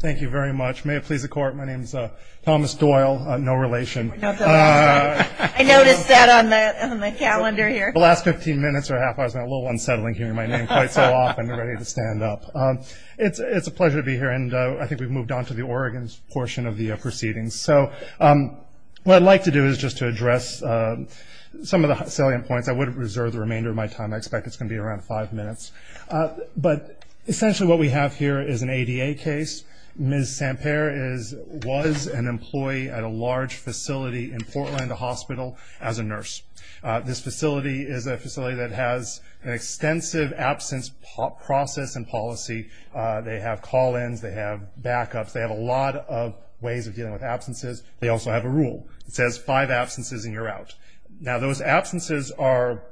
Thank you very much. May it please the Court, my name is Thomas Doyle, no relation. I noticed that on the calendar here. The last 15 minutes or half hour has been a little unsettling hearing my name quite so often ready to stand up. It's a pleasure to be here, and I think we've moved on to the Oregon portion of the proceedings. So what I'd like to do is just to address some of the salient points. I would reserve the remainder of my time. I expect it's going to be around five minutes. But essentially what we have here is an ADA case. Ms. Samper was an employee at a large facility in Portland Hospital as a nurse. This facility is a facility that has an extensive absence process and policy. They have call-ins, they have backups, they have a lot of ways of dealing with absences. They also have a rule that says five absences and you're out. Now those absences are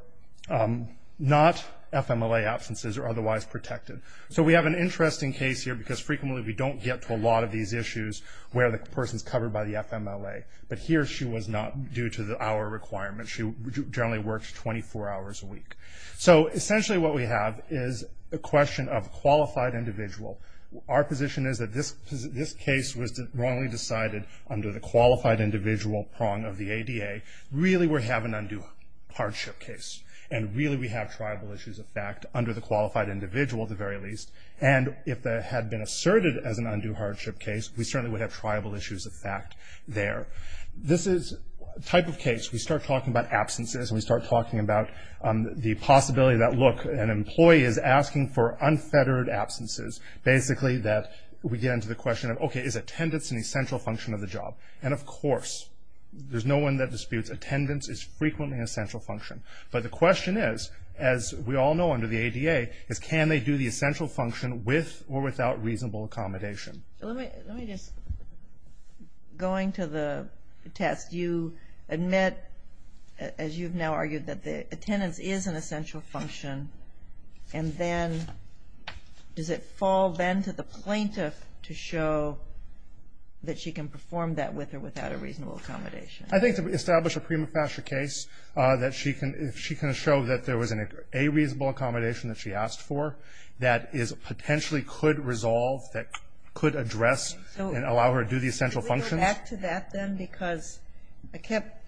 not FMLA absences or otherwise protected. So we have an interesting case here because frequently we don't get to a lot of these issues where the person is covered by the FMLA. But here she was not due to our requirements. She generally works 24 hours a week. So essentially what we have is a question of qualified individual. Our position is that this case was wrongly decided under the qualified individual prong of the ADA. Really we have an undue hardship case. And really we have triable issues of fact under the qualified individual at the very least. And if it had been asserted as an undue hardship case, we certainly would have triable issues of fact there. This is a type of case we start talking about absences and we start talking about the possibility that, look, an employee is asking for unfettered absences. Basically that we get into the question of, okay, is attendance an essential function of the job? And of course, there's no one that disputes attendance is frequently an essential function. But the question is, as we all know under the ADA, is can they do the essential function with or without reasonable accommodation? Let me just, going to the test, you admit, as you've now argued, that the attendance is an essential function. And then does it fall then to the plaintiff to show that she can perform that with or without a reasonable accommodation? I think to establish a prima facie case, that she can show that there was a reasonable accommodation that she asked for that potentially could resolve, that could address and allow her to do the essential functions. Could we go back to that then? Because I kept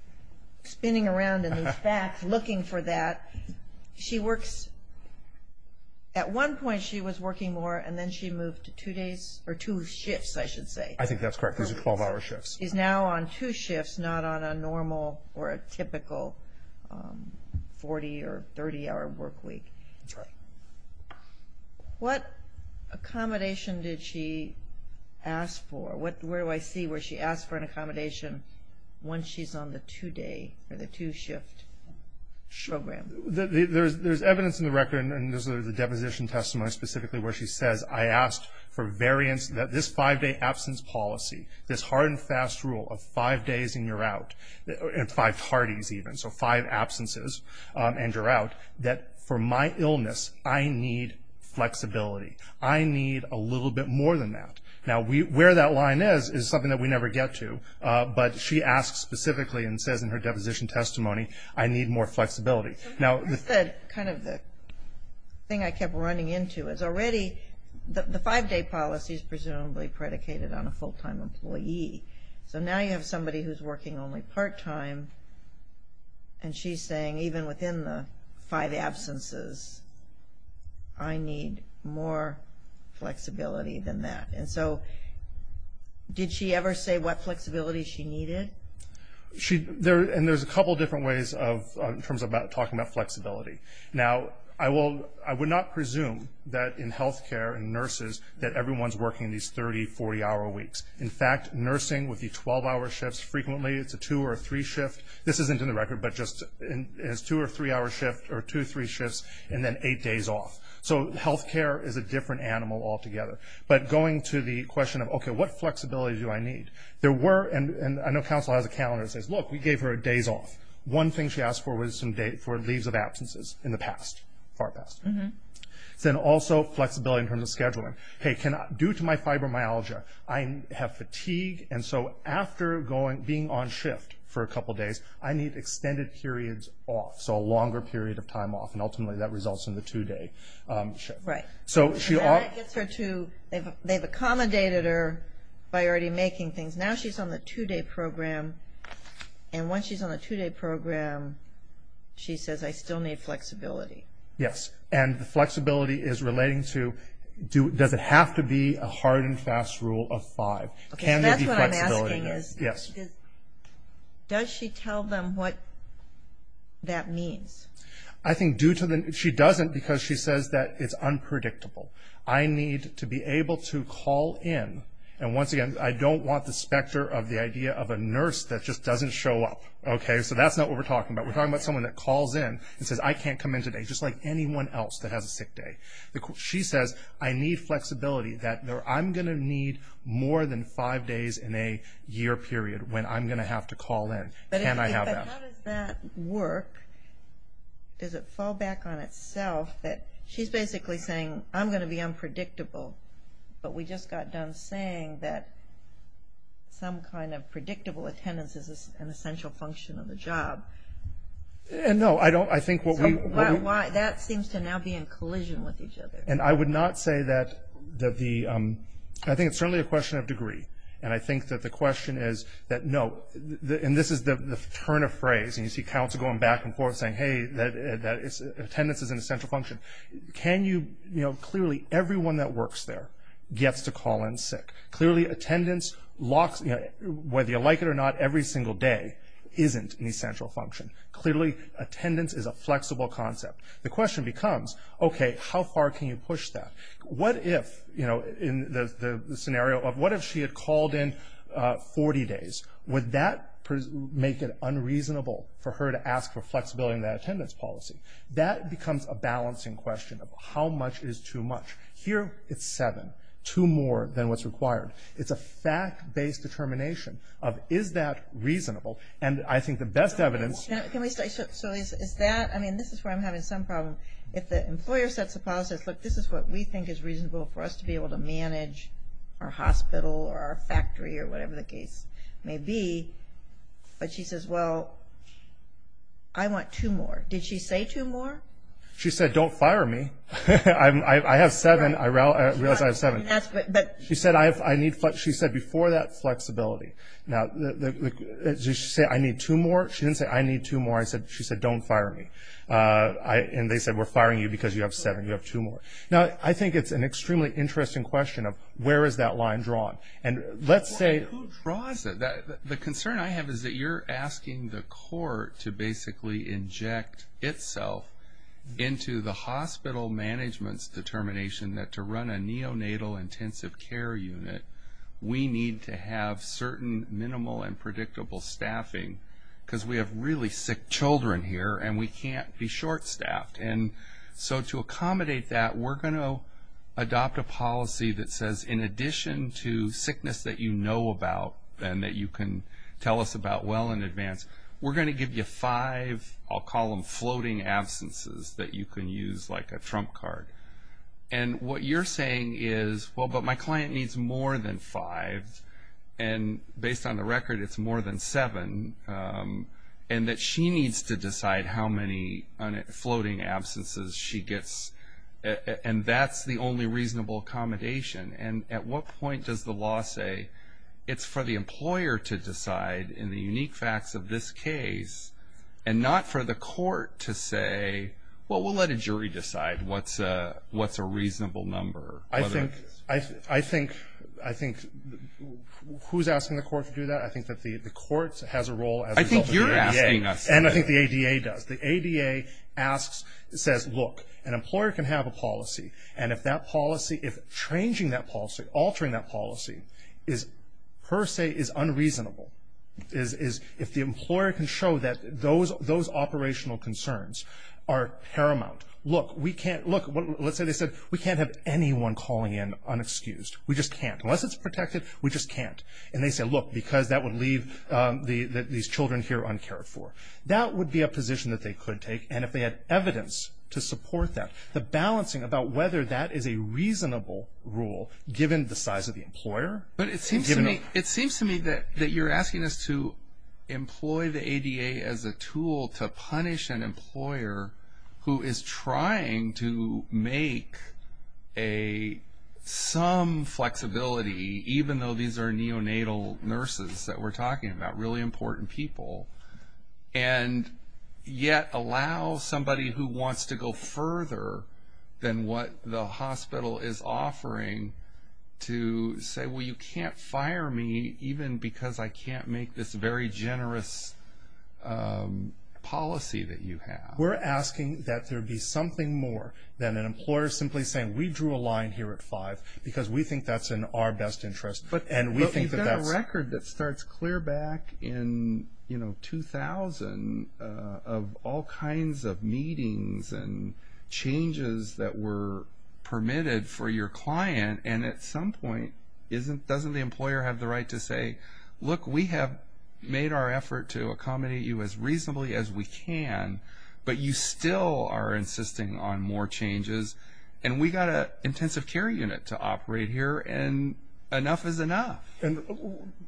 spinning around in these facts looking for that. She works, at one point she was working more, and then she moved to two days, or two shifts, I should say. I think that's correct. Those are 12-hour shifts. She's now on two shifts, not on a normal or a typical 40- or 30-hour work week. That's right. What accommodation did she ask for? Where do I see where she asked for an accommodation once she's on the two-day or the two-shift program? There's evidence in the record, and this is the deposition testimony specifically, where she says, I asked for variance that this five-day absence policy, this hard and fast rule of five days and you're out, and five parties even, so five absences and you're out, that for my illness, I need flexibility. I need a little bit more than that. Now, where that line is is something that we never get to, but she asks specifically and says in her deposition testimony, I need more flexibility. That's kind of the thing I kept running into is already, the five-day policy is presumably predicated on a full-time employee, so now you have somebody who's working only part-time, and she's saying even within the five absences, I need more flexibility than that. And so did she ever say what flexibility she needed? And there's a couple different ways in terms of talking about flexibility. Now, I would not presume that in health care and nurses that everyone's working these 30-, 40-hour weeks. In fact, nursing with the 12-hour shifts frequently, it's a two- or a three-shift. This isn't in the record, but just as two- or three-hour shifts, or two, three shifts, and then eight days off. So health care is a different animal altogether. But going to the question of, okay, what flexibility do I need? There were, and I know counsel has a calendar that says, look, we gave her days off. One thing she asked for was for leaves of absences in the past, far past. Then also flexibility in terms of scheduling. Hey, due to my fibromyalgia, I have fatigue, and so after being on shift for a couple days, I need extended periods off, so a longer period of time off, and ultimately that results in the two-day shift. Right. And that gets her to, they've accommodated her by already making things. Now she's on the two-day program, and once she's on the two-day program, she says, I still need flexibility. Yes, and the flexibility is relating to, does it have to be a hard and fast rule of five? That's what I'm asking is, does she tell them what that means? I think due to the, she doesn't because she says that it's unpredictable. I need to be able to call in, and once again, I don't want the specter of the idea of a nurse that just doesn't show up. Okay, so that's not what we're talking about. We're talking about someone that calls in and says, I can't come in today, just like anyone else that has a sick day. She says, I need flexibility, that I'm going to need more than five days in a year period when I'm going to have to call in. Can I have that? But how does that work? Does it fall back on itself that she's basically saying, I'm going to be unpredictable, but we just got done saying that some kind of predictable attendance is an essential function of the job? No, I don't. That seems to now be in collision with each other. And I would not say that the, I think it's certainly a question of degree, and I think that the question is that no, and this is the turn of phrase, and you see counsel going back and forth saying, hey, attendance is an essential function. Can you, you know, clearly everyone that works there gets to call in sick. Clearly attendance locks, whether you like it or not, every single day isn't an essential function. Clearly attendance is a flexible concept. The question becomes, okay, how far can you push that? What if, you know, in the scenario of what if she had called in 40 days? Would that make it unreasonable for her to ask for flexibility in that attendance policy? That becomes a balancing question of how much is too much. Here it's seven, two more than what's required. It's a fact-based determination of is that reasonable? And I think the best evidence- Can we stay, so is that, I mean, this is where I'm having some problem. If the employer sets a policy, look, this is what we think is reasonable for us to be able to manage our hospital or our factory or whatever the case may be, but she says, well, I want two more. Did she say two more? She said, don't fire me. I have seven. I realize I have seven. She said before that, flexibility. Now, did she say, I need two more? She didn't say, I need two more. She said, don't fire me. And they said, we're firing you because you have seven. You have two more. Now, I think it's an extremely interesting question of where is that line drawn. And let's say- Who draws it? The concern I have is that you're asking the court to basically inject itself into the hospital management's determination that to run a neonatal intensive care unit, we need to have certain minimal and predictable staffing because we have really sick children here, and we can't be short-staffed. And so to accommodate that, we're going to adopt a policy that says, in addition to sickness that you know about and that you can tell us about well in advance, we're going to give you five, I'll call them floating absences that you can use like a trump card. And what you're saying is, well, but my client needs more than five, and based on the record, it's more than seven, and that she needs to decide how many floating absences she gets. And that's the only reasonable accommodation. And at what point does the law say it's for the employer to decide in the unique facts of this case and not for the court to say, well, we'll let a jury decide what's a reasonable number. I think who's asking the court to do that? I think that the court has a role as a result of asking us. I think you're asking us. And I think the ADA does. The ADA asks, says, look, an employer can have a policy, and if that policy, if changing that policy, altering that policy per se is unreasonable, is if the employer can show that those operational concerns are paramount. Look, we can't, look, let's say they said, we can't have anyone calling in unexcused. We just can't. Unless it's protected, we just can't. And they say, look, because that would leave these children here uncared for. That would be a position that they could take. And if they had evidence to support that, the balancing about whether that is a reasonable rule given the size of the employer. But it seems to me that you're asking us to employ the ADA as a tool to punish an employer who is trying to make some flexibility, even though these are neonatal nurses that we're talking about, who are really important people, and yet allow somebody who wants to go further than what the hospital is offering to say, well, you can't fire me, even because I can't make this very generous policy that you have. We're asking that there be something more than an employer simply saying, we drew a line here at five because we think that's in our best interest. But you've got a record that starts clear back in 2000 of all kinds of meetings and changes that were permitted for your client. And at some point, doesn't the employer have the right to say, look, we have made our effort to accommodate you as reasonably as we can, but you still are insisting on more changes. And we've got an intensive care unit to operate here. And enough is enough. And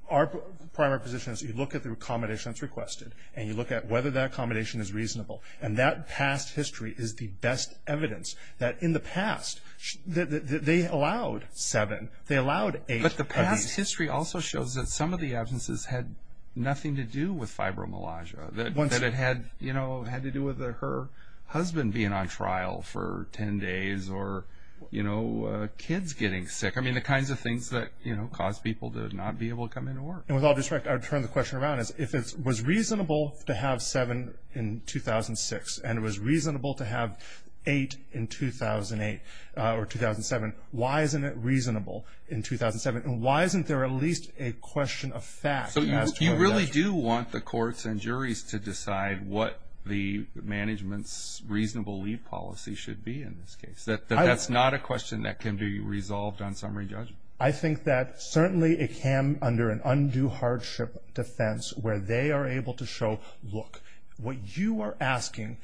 our primary position is you look at the accommodation that's requested, and you look at whether that accommodation is reasonable. And that past history is the best evidence that in the past they allowed seven, they allowed eight of these. But the past history also shows that some of the absences had nothing to do with fibromyalgia, that it had to do with her husband being on trial for 10 days or kids getting sick. I mean, the kinds of things that, you know, cause people to not be able to come into work. And with all due respect, I would turn the question around. If it was reasonable to have seven in 2006, and it was reasonable to have eight in 2008 or 2007, why isn't it reasonable in 2007? And why isn't there at least a question of fact? So you really do want the courts and juries to decide what the management's reasonable leave policy should be in this case. That's not a question that can be resolved on summary judgment. I think that certainly it can under an undue hardship defense where they are able to show, look, what you are asking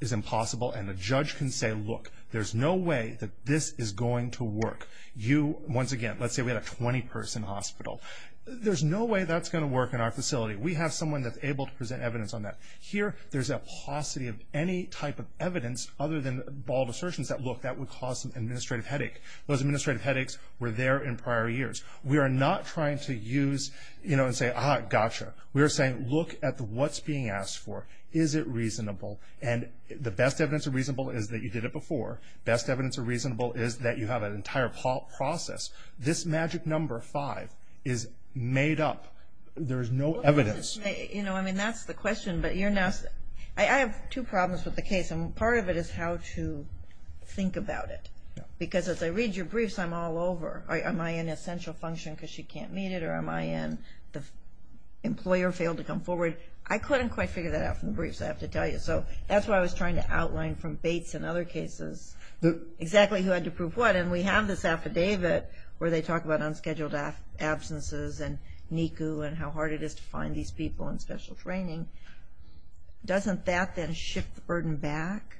is impossible. And the judge can say, look, there's no way that this is going to work. You, once again, let's say we had a 20-person hospital. There's no way that's going to work in our facility. We have someone that's able to present evidence on that. Here there's a paucity of any type of evidence other than bald assertions that, look, that would cause some administrative headache. Those administrative headaches were there in prior years. We are not trying to use, you know, and say, ah, gotcha. We are saying look at what's being asked for. Is it reasonable? And the best evidence of reasonable is that you did it before. Best evidence of reasonable is that you have an entire process. This magic number five is made up. There is no evidence. You know, I mean, that's the question. But I have two problems with the case, and part of it is how to think about it. Because as I read your briefs, I'm all over. Am I in essential function because she can't meet it, or am I in the employer failed to come forward? I couldn't quite figure that out from the briefs, I have to tell you. So that's why I was trying to outline from Bates and other cases exactly who had to prove what. And we have this affidavit where they talk about unscheduled absences and NICU and how hard it is to find these people in special training. Doesn't that then shift the burden back?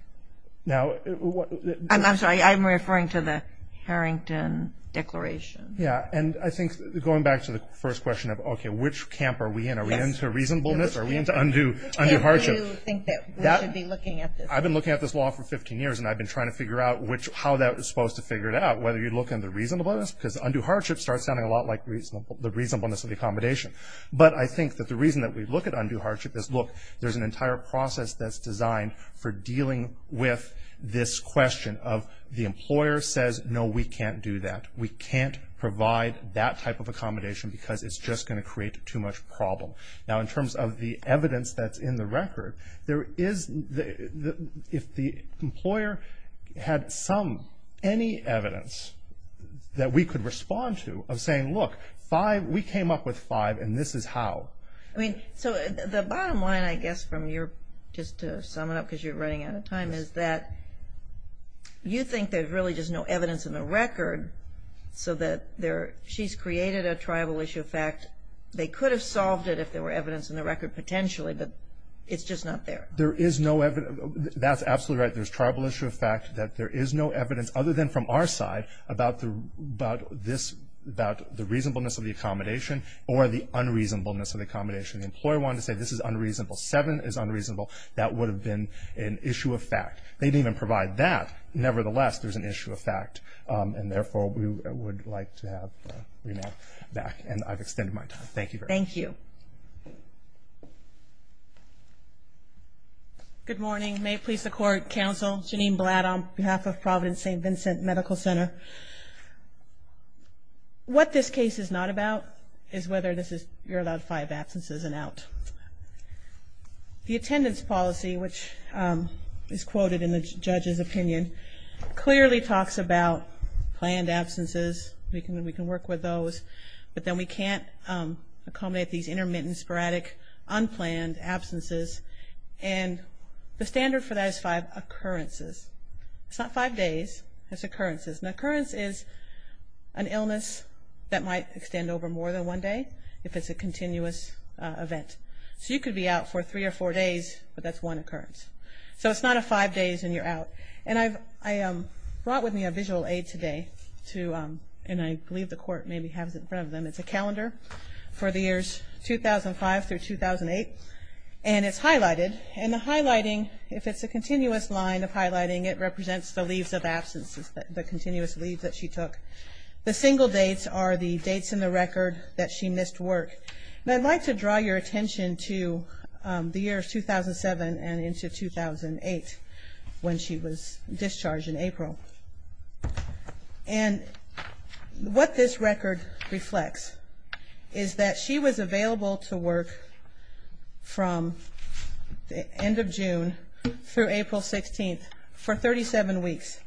I'm sorry, I'm referring to the Harrington Declaration. Yeah, and I think going back to the first question of, okay, which camp are we in? Are we into reasonableness or are we into undue hardship? I've been looking at this law for 15 years, and I've been trying to figure out how that was supposed to figure it out, whether you look in the reasonableness, because undue hardship starts sounding a lot like the reasonableness of the accommodation. But I think that the reason that we look at undue hardship is, look, there's an entire process that's designed for dealing with this question of the employer says, no, we can't do that, we can't provide that type of accommodation because it's just going to create too much problem. Now, in terms of the evidence that's in the record, if the employer had some, any evidence that we could respond to of saying, look, we came up with five and this is how. So the bottom line, I guess, just to sum it up because you're running out of time, is that you think there's really just no evidence in the record so that she's created a tribal issue. In fact, they could have solved it if there were evidence in the record potentially, but it's just not there. There is no evidence. That's absolutely right. There's tribal issue of fact that there is no evidence other than from our side about this, about the reasonableness of the accommodation or the unreasonableness of the accommodation. The employer wanted to say this is unreasonable. Seven is unreasonable. That would have been an issue of fact. They didn't even provide that. Nevertheless, there's an issue of fact. And, therefore, we would like to have the remand back. And I've extended my time. Thank you very much. Thank you. Good morning. May it please the Court, Counsel Janine Blatt on behalf of Providence St. Vincent Medical Center. What this case is not about is whether you're allowed five absences and out. The attendance policy, which is quoted in the judge's opinion, clearly talks about planned absences. We can work with those. But then we can't accommodate these intermittent, sporadic, unplanned absences. And the standard for that is five occurrences. It's not five days. It's occurrences. An occurrence is an illness that might extend over more than one day if it's a continuous event. So you could be out for three or four days, but that's one occurrence. So it's not a five days and you're out. And I brought with me a visual aid today, and I believe the Court maybe has it in front of them. It's a calendar for the years 2005 through 2008, and it's highlighted. And the highlighting, if it's a continuous line of highlighting, it represents the leaves of absences, the continuous leaves that she took. The single dates are the dates in the record that she missed work. And I'd like to draw your attention to the years 2007 and into 2008 when she was discharged in April. And what this record reflects is that she was available to work from the end of June through April 16th for 37 weeks.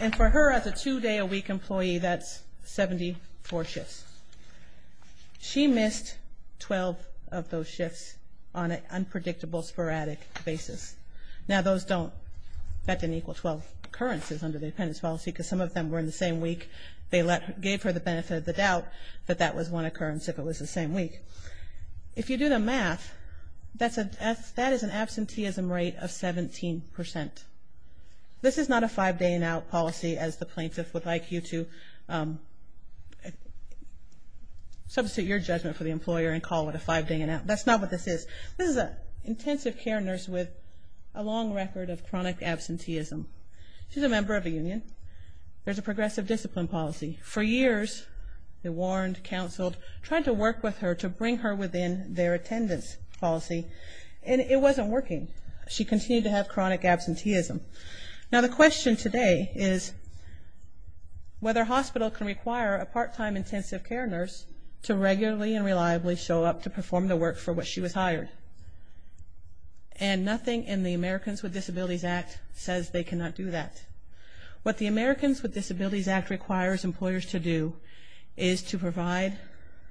And for her as a two-day-a-week employee, that's 74 shifts. She missed 12 of those shifts on an unpredictable, sporadic basis. Now, that didn't equal 12 occurrences under the dependence policy because some of them were in the same week. They gave her the benefit of the doubt that that was one occurrence if it was the same week. If you do the math, that is an absenteeism rate of 17%. This is not a five-day-and-out policy, as the plaintiff would like you to substitute your judgment for the employer and call it a five-day-and-out. That's not what this is. This is an intensive care nurse with a long record of chronic absenteeism. She's a member of a union. There's a progressive discipline policy. For years, they warned, counseled, tried to work with her to bring her within their attendance policy, and it wasn't working. She continued to have chronic absenteeism. Now, the question today is whether a hospital can require a part-time intensive care nurse to regularly and reliably show up to perform the work for which she was hired. And nothing in the Americans with Disabilities Act says they cannot do that. What the Americans with Disabilities Act requires employers to do is to provide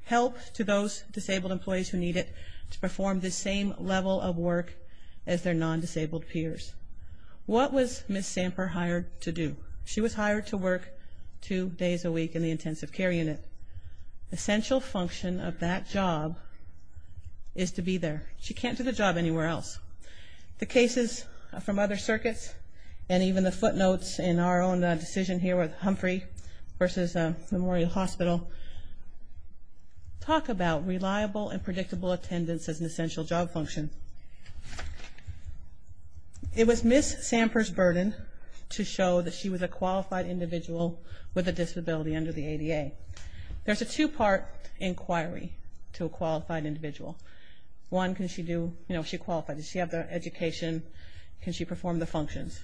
help to those disabled employees who need it to perform the same level of work as their non-disabled peers. What was Ms. Samper hired to do? She was hired to work two days a week in the intensive care unit. Essential function of that job is to be there. She can't do the job anywhere else. The cases from other circuits and even the footnotes in our own decision here with Humphrey versus Memorial Hospital talk about reliable and predictable attendance as an essential job function. It was Ms. Samper's burden to show that she was a qualified individual with a disability under the ADA. There's a two-part inquiry to a qualified individual. One, can she do, you know, she qualified. Does she have the education? Can she perform the functions?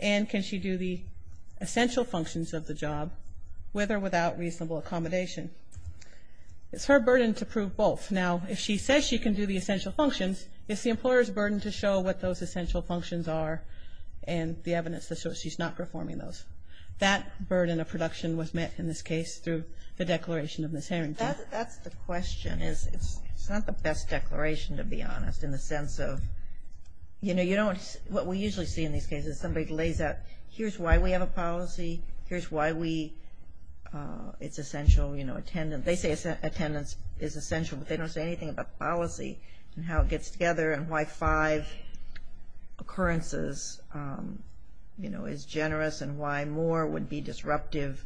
And can she do the essential functions of the job with or without reasonable accommodation? It's her burden to prove both. Now, if she says she can do the essential functions, it's the employer's burden to show what those essential functions are and the evidence that shows she's not performing those. That burden of production was met in this case through the declaration of Ms. Harrington. That's the question. It's not the best declaration, to be honest, in the sense of, you know, what we usually see in these cases is somebody lays out, here's why we have a policy. Here's why it's essential, you know, attendance. They say attendance is essential, but they don't say anything about policy and how it gets together and why five occurrences, you know, is generous and why more would be disruptive.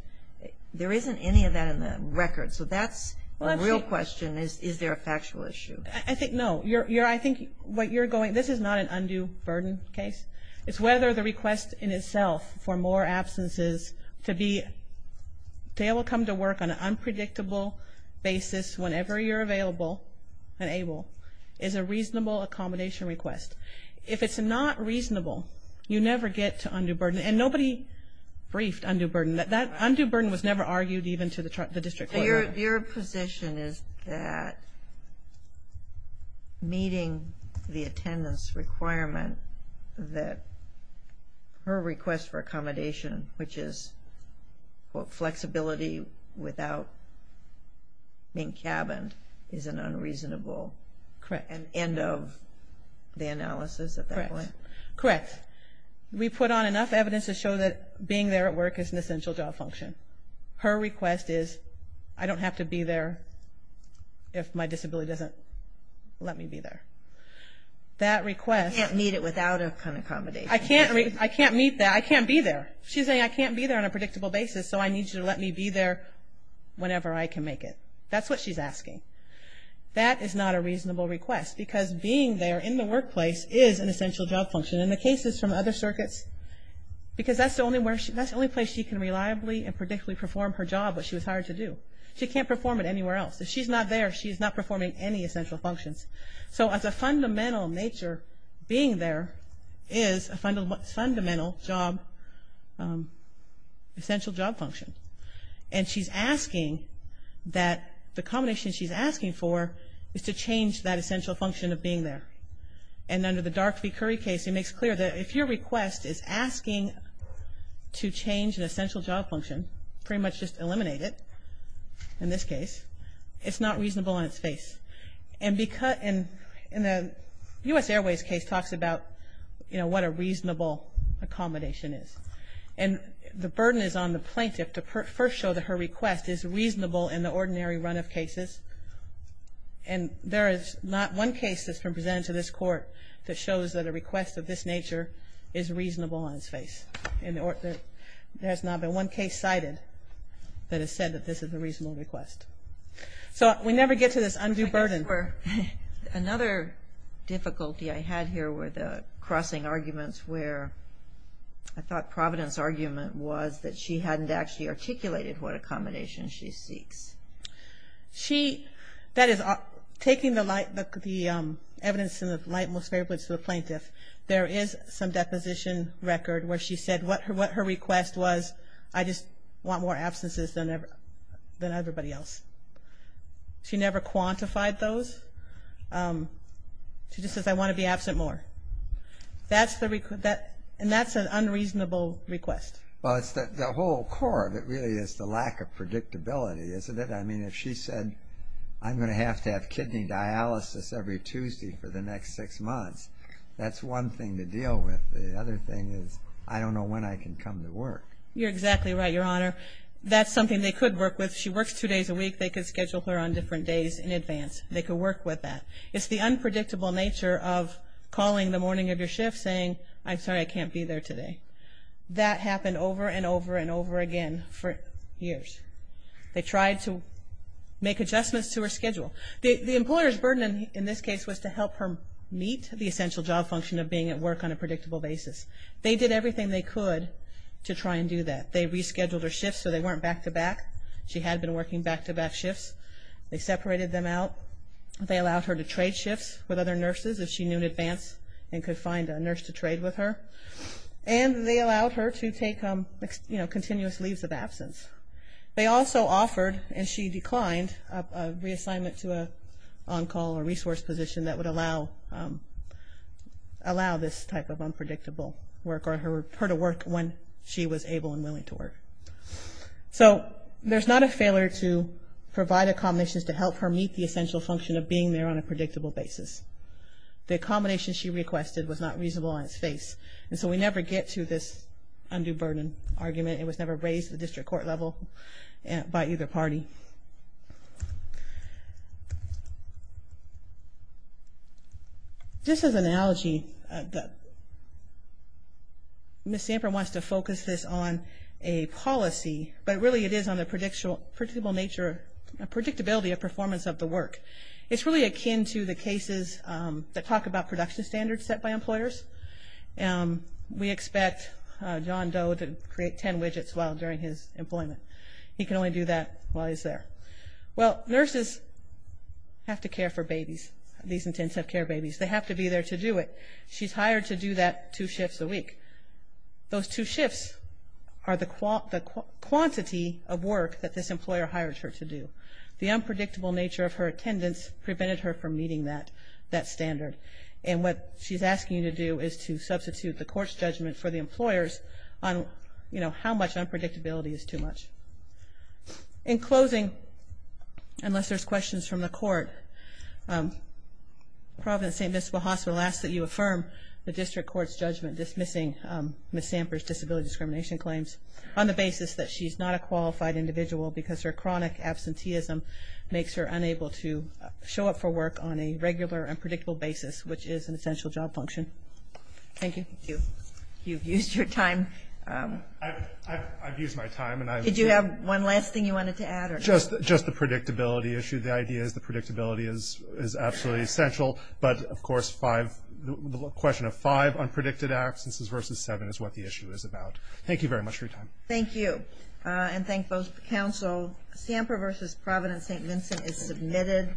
There isn't any of that in the record. So that's a real question. Is there a factual issue? I think no. I think what you're going, this is not an undue burden case. It's whether the request in itself for more absences to be able to come to work on an unpredictable basis whenever you're available and able is a reasonable accommodation request. If it's not reasonable, you never get to undue burden, and nobody briefed undue burden. That undue burden was never argued even to the district court. Your position is that meeting the attendance requirement, that her request for accommodation, which is, quote, flexibility without being cabined is an unreasonable end of the analysis at that point? Correct. We put on enough evidence to show that being there at work is an essential job function. Her request is I don't have to be there if my disability doesn't let me be there. That request. You can't meet it without an accommodation. I can't meet that. I can't be there. She's saying I can't be there on a predictable basis, so I need you to let me be there whenever I can make it. That's what she's asking. That is not a reasonable request because being there in the workplace is an essential job function. In the cases from other circuits, because that's the only place she can reliably and predictably perform her job that she was hired to do. She can't perform it anywhere else. If she's not there, she's not performing any essential functions. So as a fundamental nature, being there is a fundamental job, essential job function. And she's asking that the combination she's asking for is to change that essential function of being there. And under the Dark v. Curry case, it makes clear that if your request is asking to change an essential job function, pretty much just eliminate it in this case, it's not reasonable on its face. And in the U.S. Airways case talks about, you know, what a reasonable accommodation is. And the burden is on the plaintiff to first show that her request is reasonable in the ordinary run of cases. And there is not one case that's been presented to this court that shows that a request of this nature is reasonable on its face. There has not been one case cited that has said that this is a reasonable request. So we never get to this undue burden. Another difficulty I had here were the crossing arguments where I thought Providence's argument was that she hadn't actually articulated what accommodation she seeks. She, that is, taking the light, the evidence in the light most favorably to the plaintiff, there is some deposition record where she said what her request was, I just want more absences than everybody else. She never quantified those. She just says, I want to be absent more. That's the, and that's an unreasonable request. Well, it's the whole core of it really is the lack of predictability, isn't it? I mean, if she said, I'm going to have to have kidney dialysis every Tuesday for the next six months, that's one thing to deal with. The other thing is, I don't know when I can come to work. You're exactly right, Your Honor. That's something they could work with. She works two days a week. They could schedule her on different days in advance. They could work with that. It's the unpredictable nature of calling the morning of your shift saying, I'm sorry, I can't be there today. That happened over and over and over again for years. They tried to make adjustments to her schedule. The employer's burden in this case was to help her meet the essential job function of being at work on a predictable basis. They did everything they could to try and do that. They rescheduled her shifts so they weren't back-to-back. She had been working back-to-back shifts. They separated them out. They allowed her to trade shifts with other nurses if she knew in advance and could find a nurse to trade with her. And they allowed her to take, you know, continuous leaves of absence. They also offered, and she declined, a reassignment to an on-call or resource position that would allow this type of unpredictable work or her to work when she was able and willing to work. So there's not a failure to provide accommodations to help her meet the essential function of being there on a predictable basis. The accommodation she requested was not reasonable on its face. And so we never get to this undue burden argument. It was never raised at the district court level by either party. Just as an analogy, Ms. Samper wants to focus this on a policy, but really it is on the predictability of performance of the work. It's really akin to the cases that talk about production standards set by employers. We expect John Doe to create 10 widgets while during his employment. He can only do that while he's there. Well, nurses have to care for babies, these intensive care babies. They have to be there to do it. She's hired to do that two shifts a week. Those two shifts are the quantity of work that this employer hired her to do. The unpredictable nature of her attendance prevented her from meeting that standard. And what she's asking you to do is to substitute the court's judgment for the employer's on, you know, how much unpredictability is too much. In closing, unless there's questions from the court, Providence St. Vincent Hospital asks that you affirm the district court's judgment dismissing Ms. Samper's disability discrimination claims on the basis that she's not a qualified individual because her chronic absenteeism makes her unable to show up for work on a regular and predictable basis, which is an essential job function. Thank you. Thank you. You've used your time. I've used my time. Did you have one last thing you wanted to add? Just the predictability issue. The idea is the predictability is absolutely essential. But, of course, the question of five unpredicted absences versus seven is what the issue is about. Thank you very much for your time. Thank you. And thank both counsel. Samper v. Providence St. Vincent is submitted.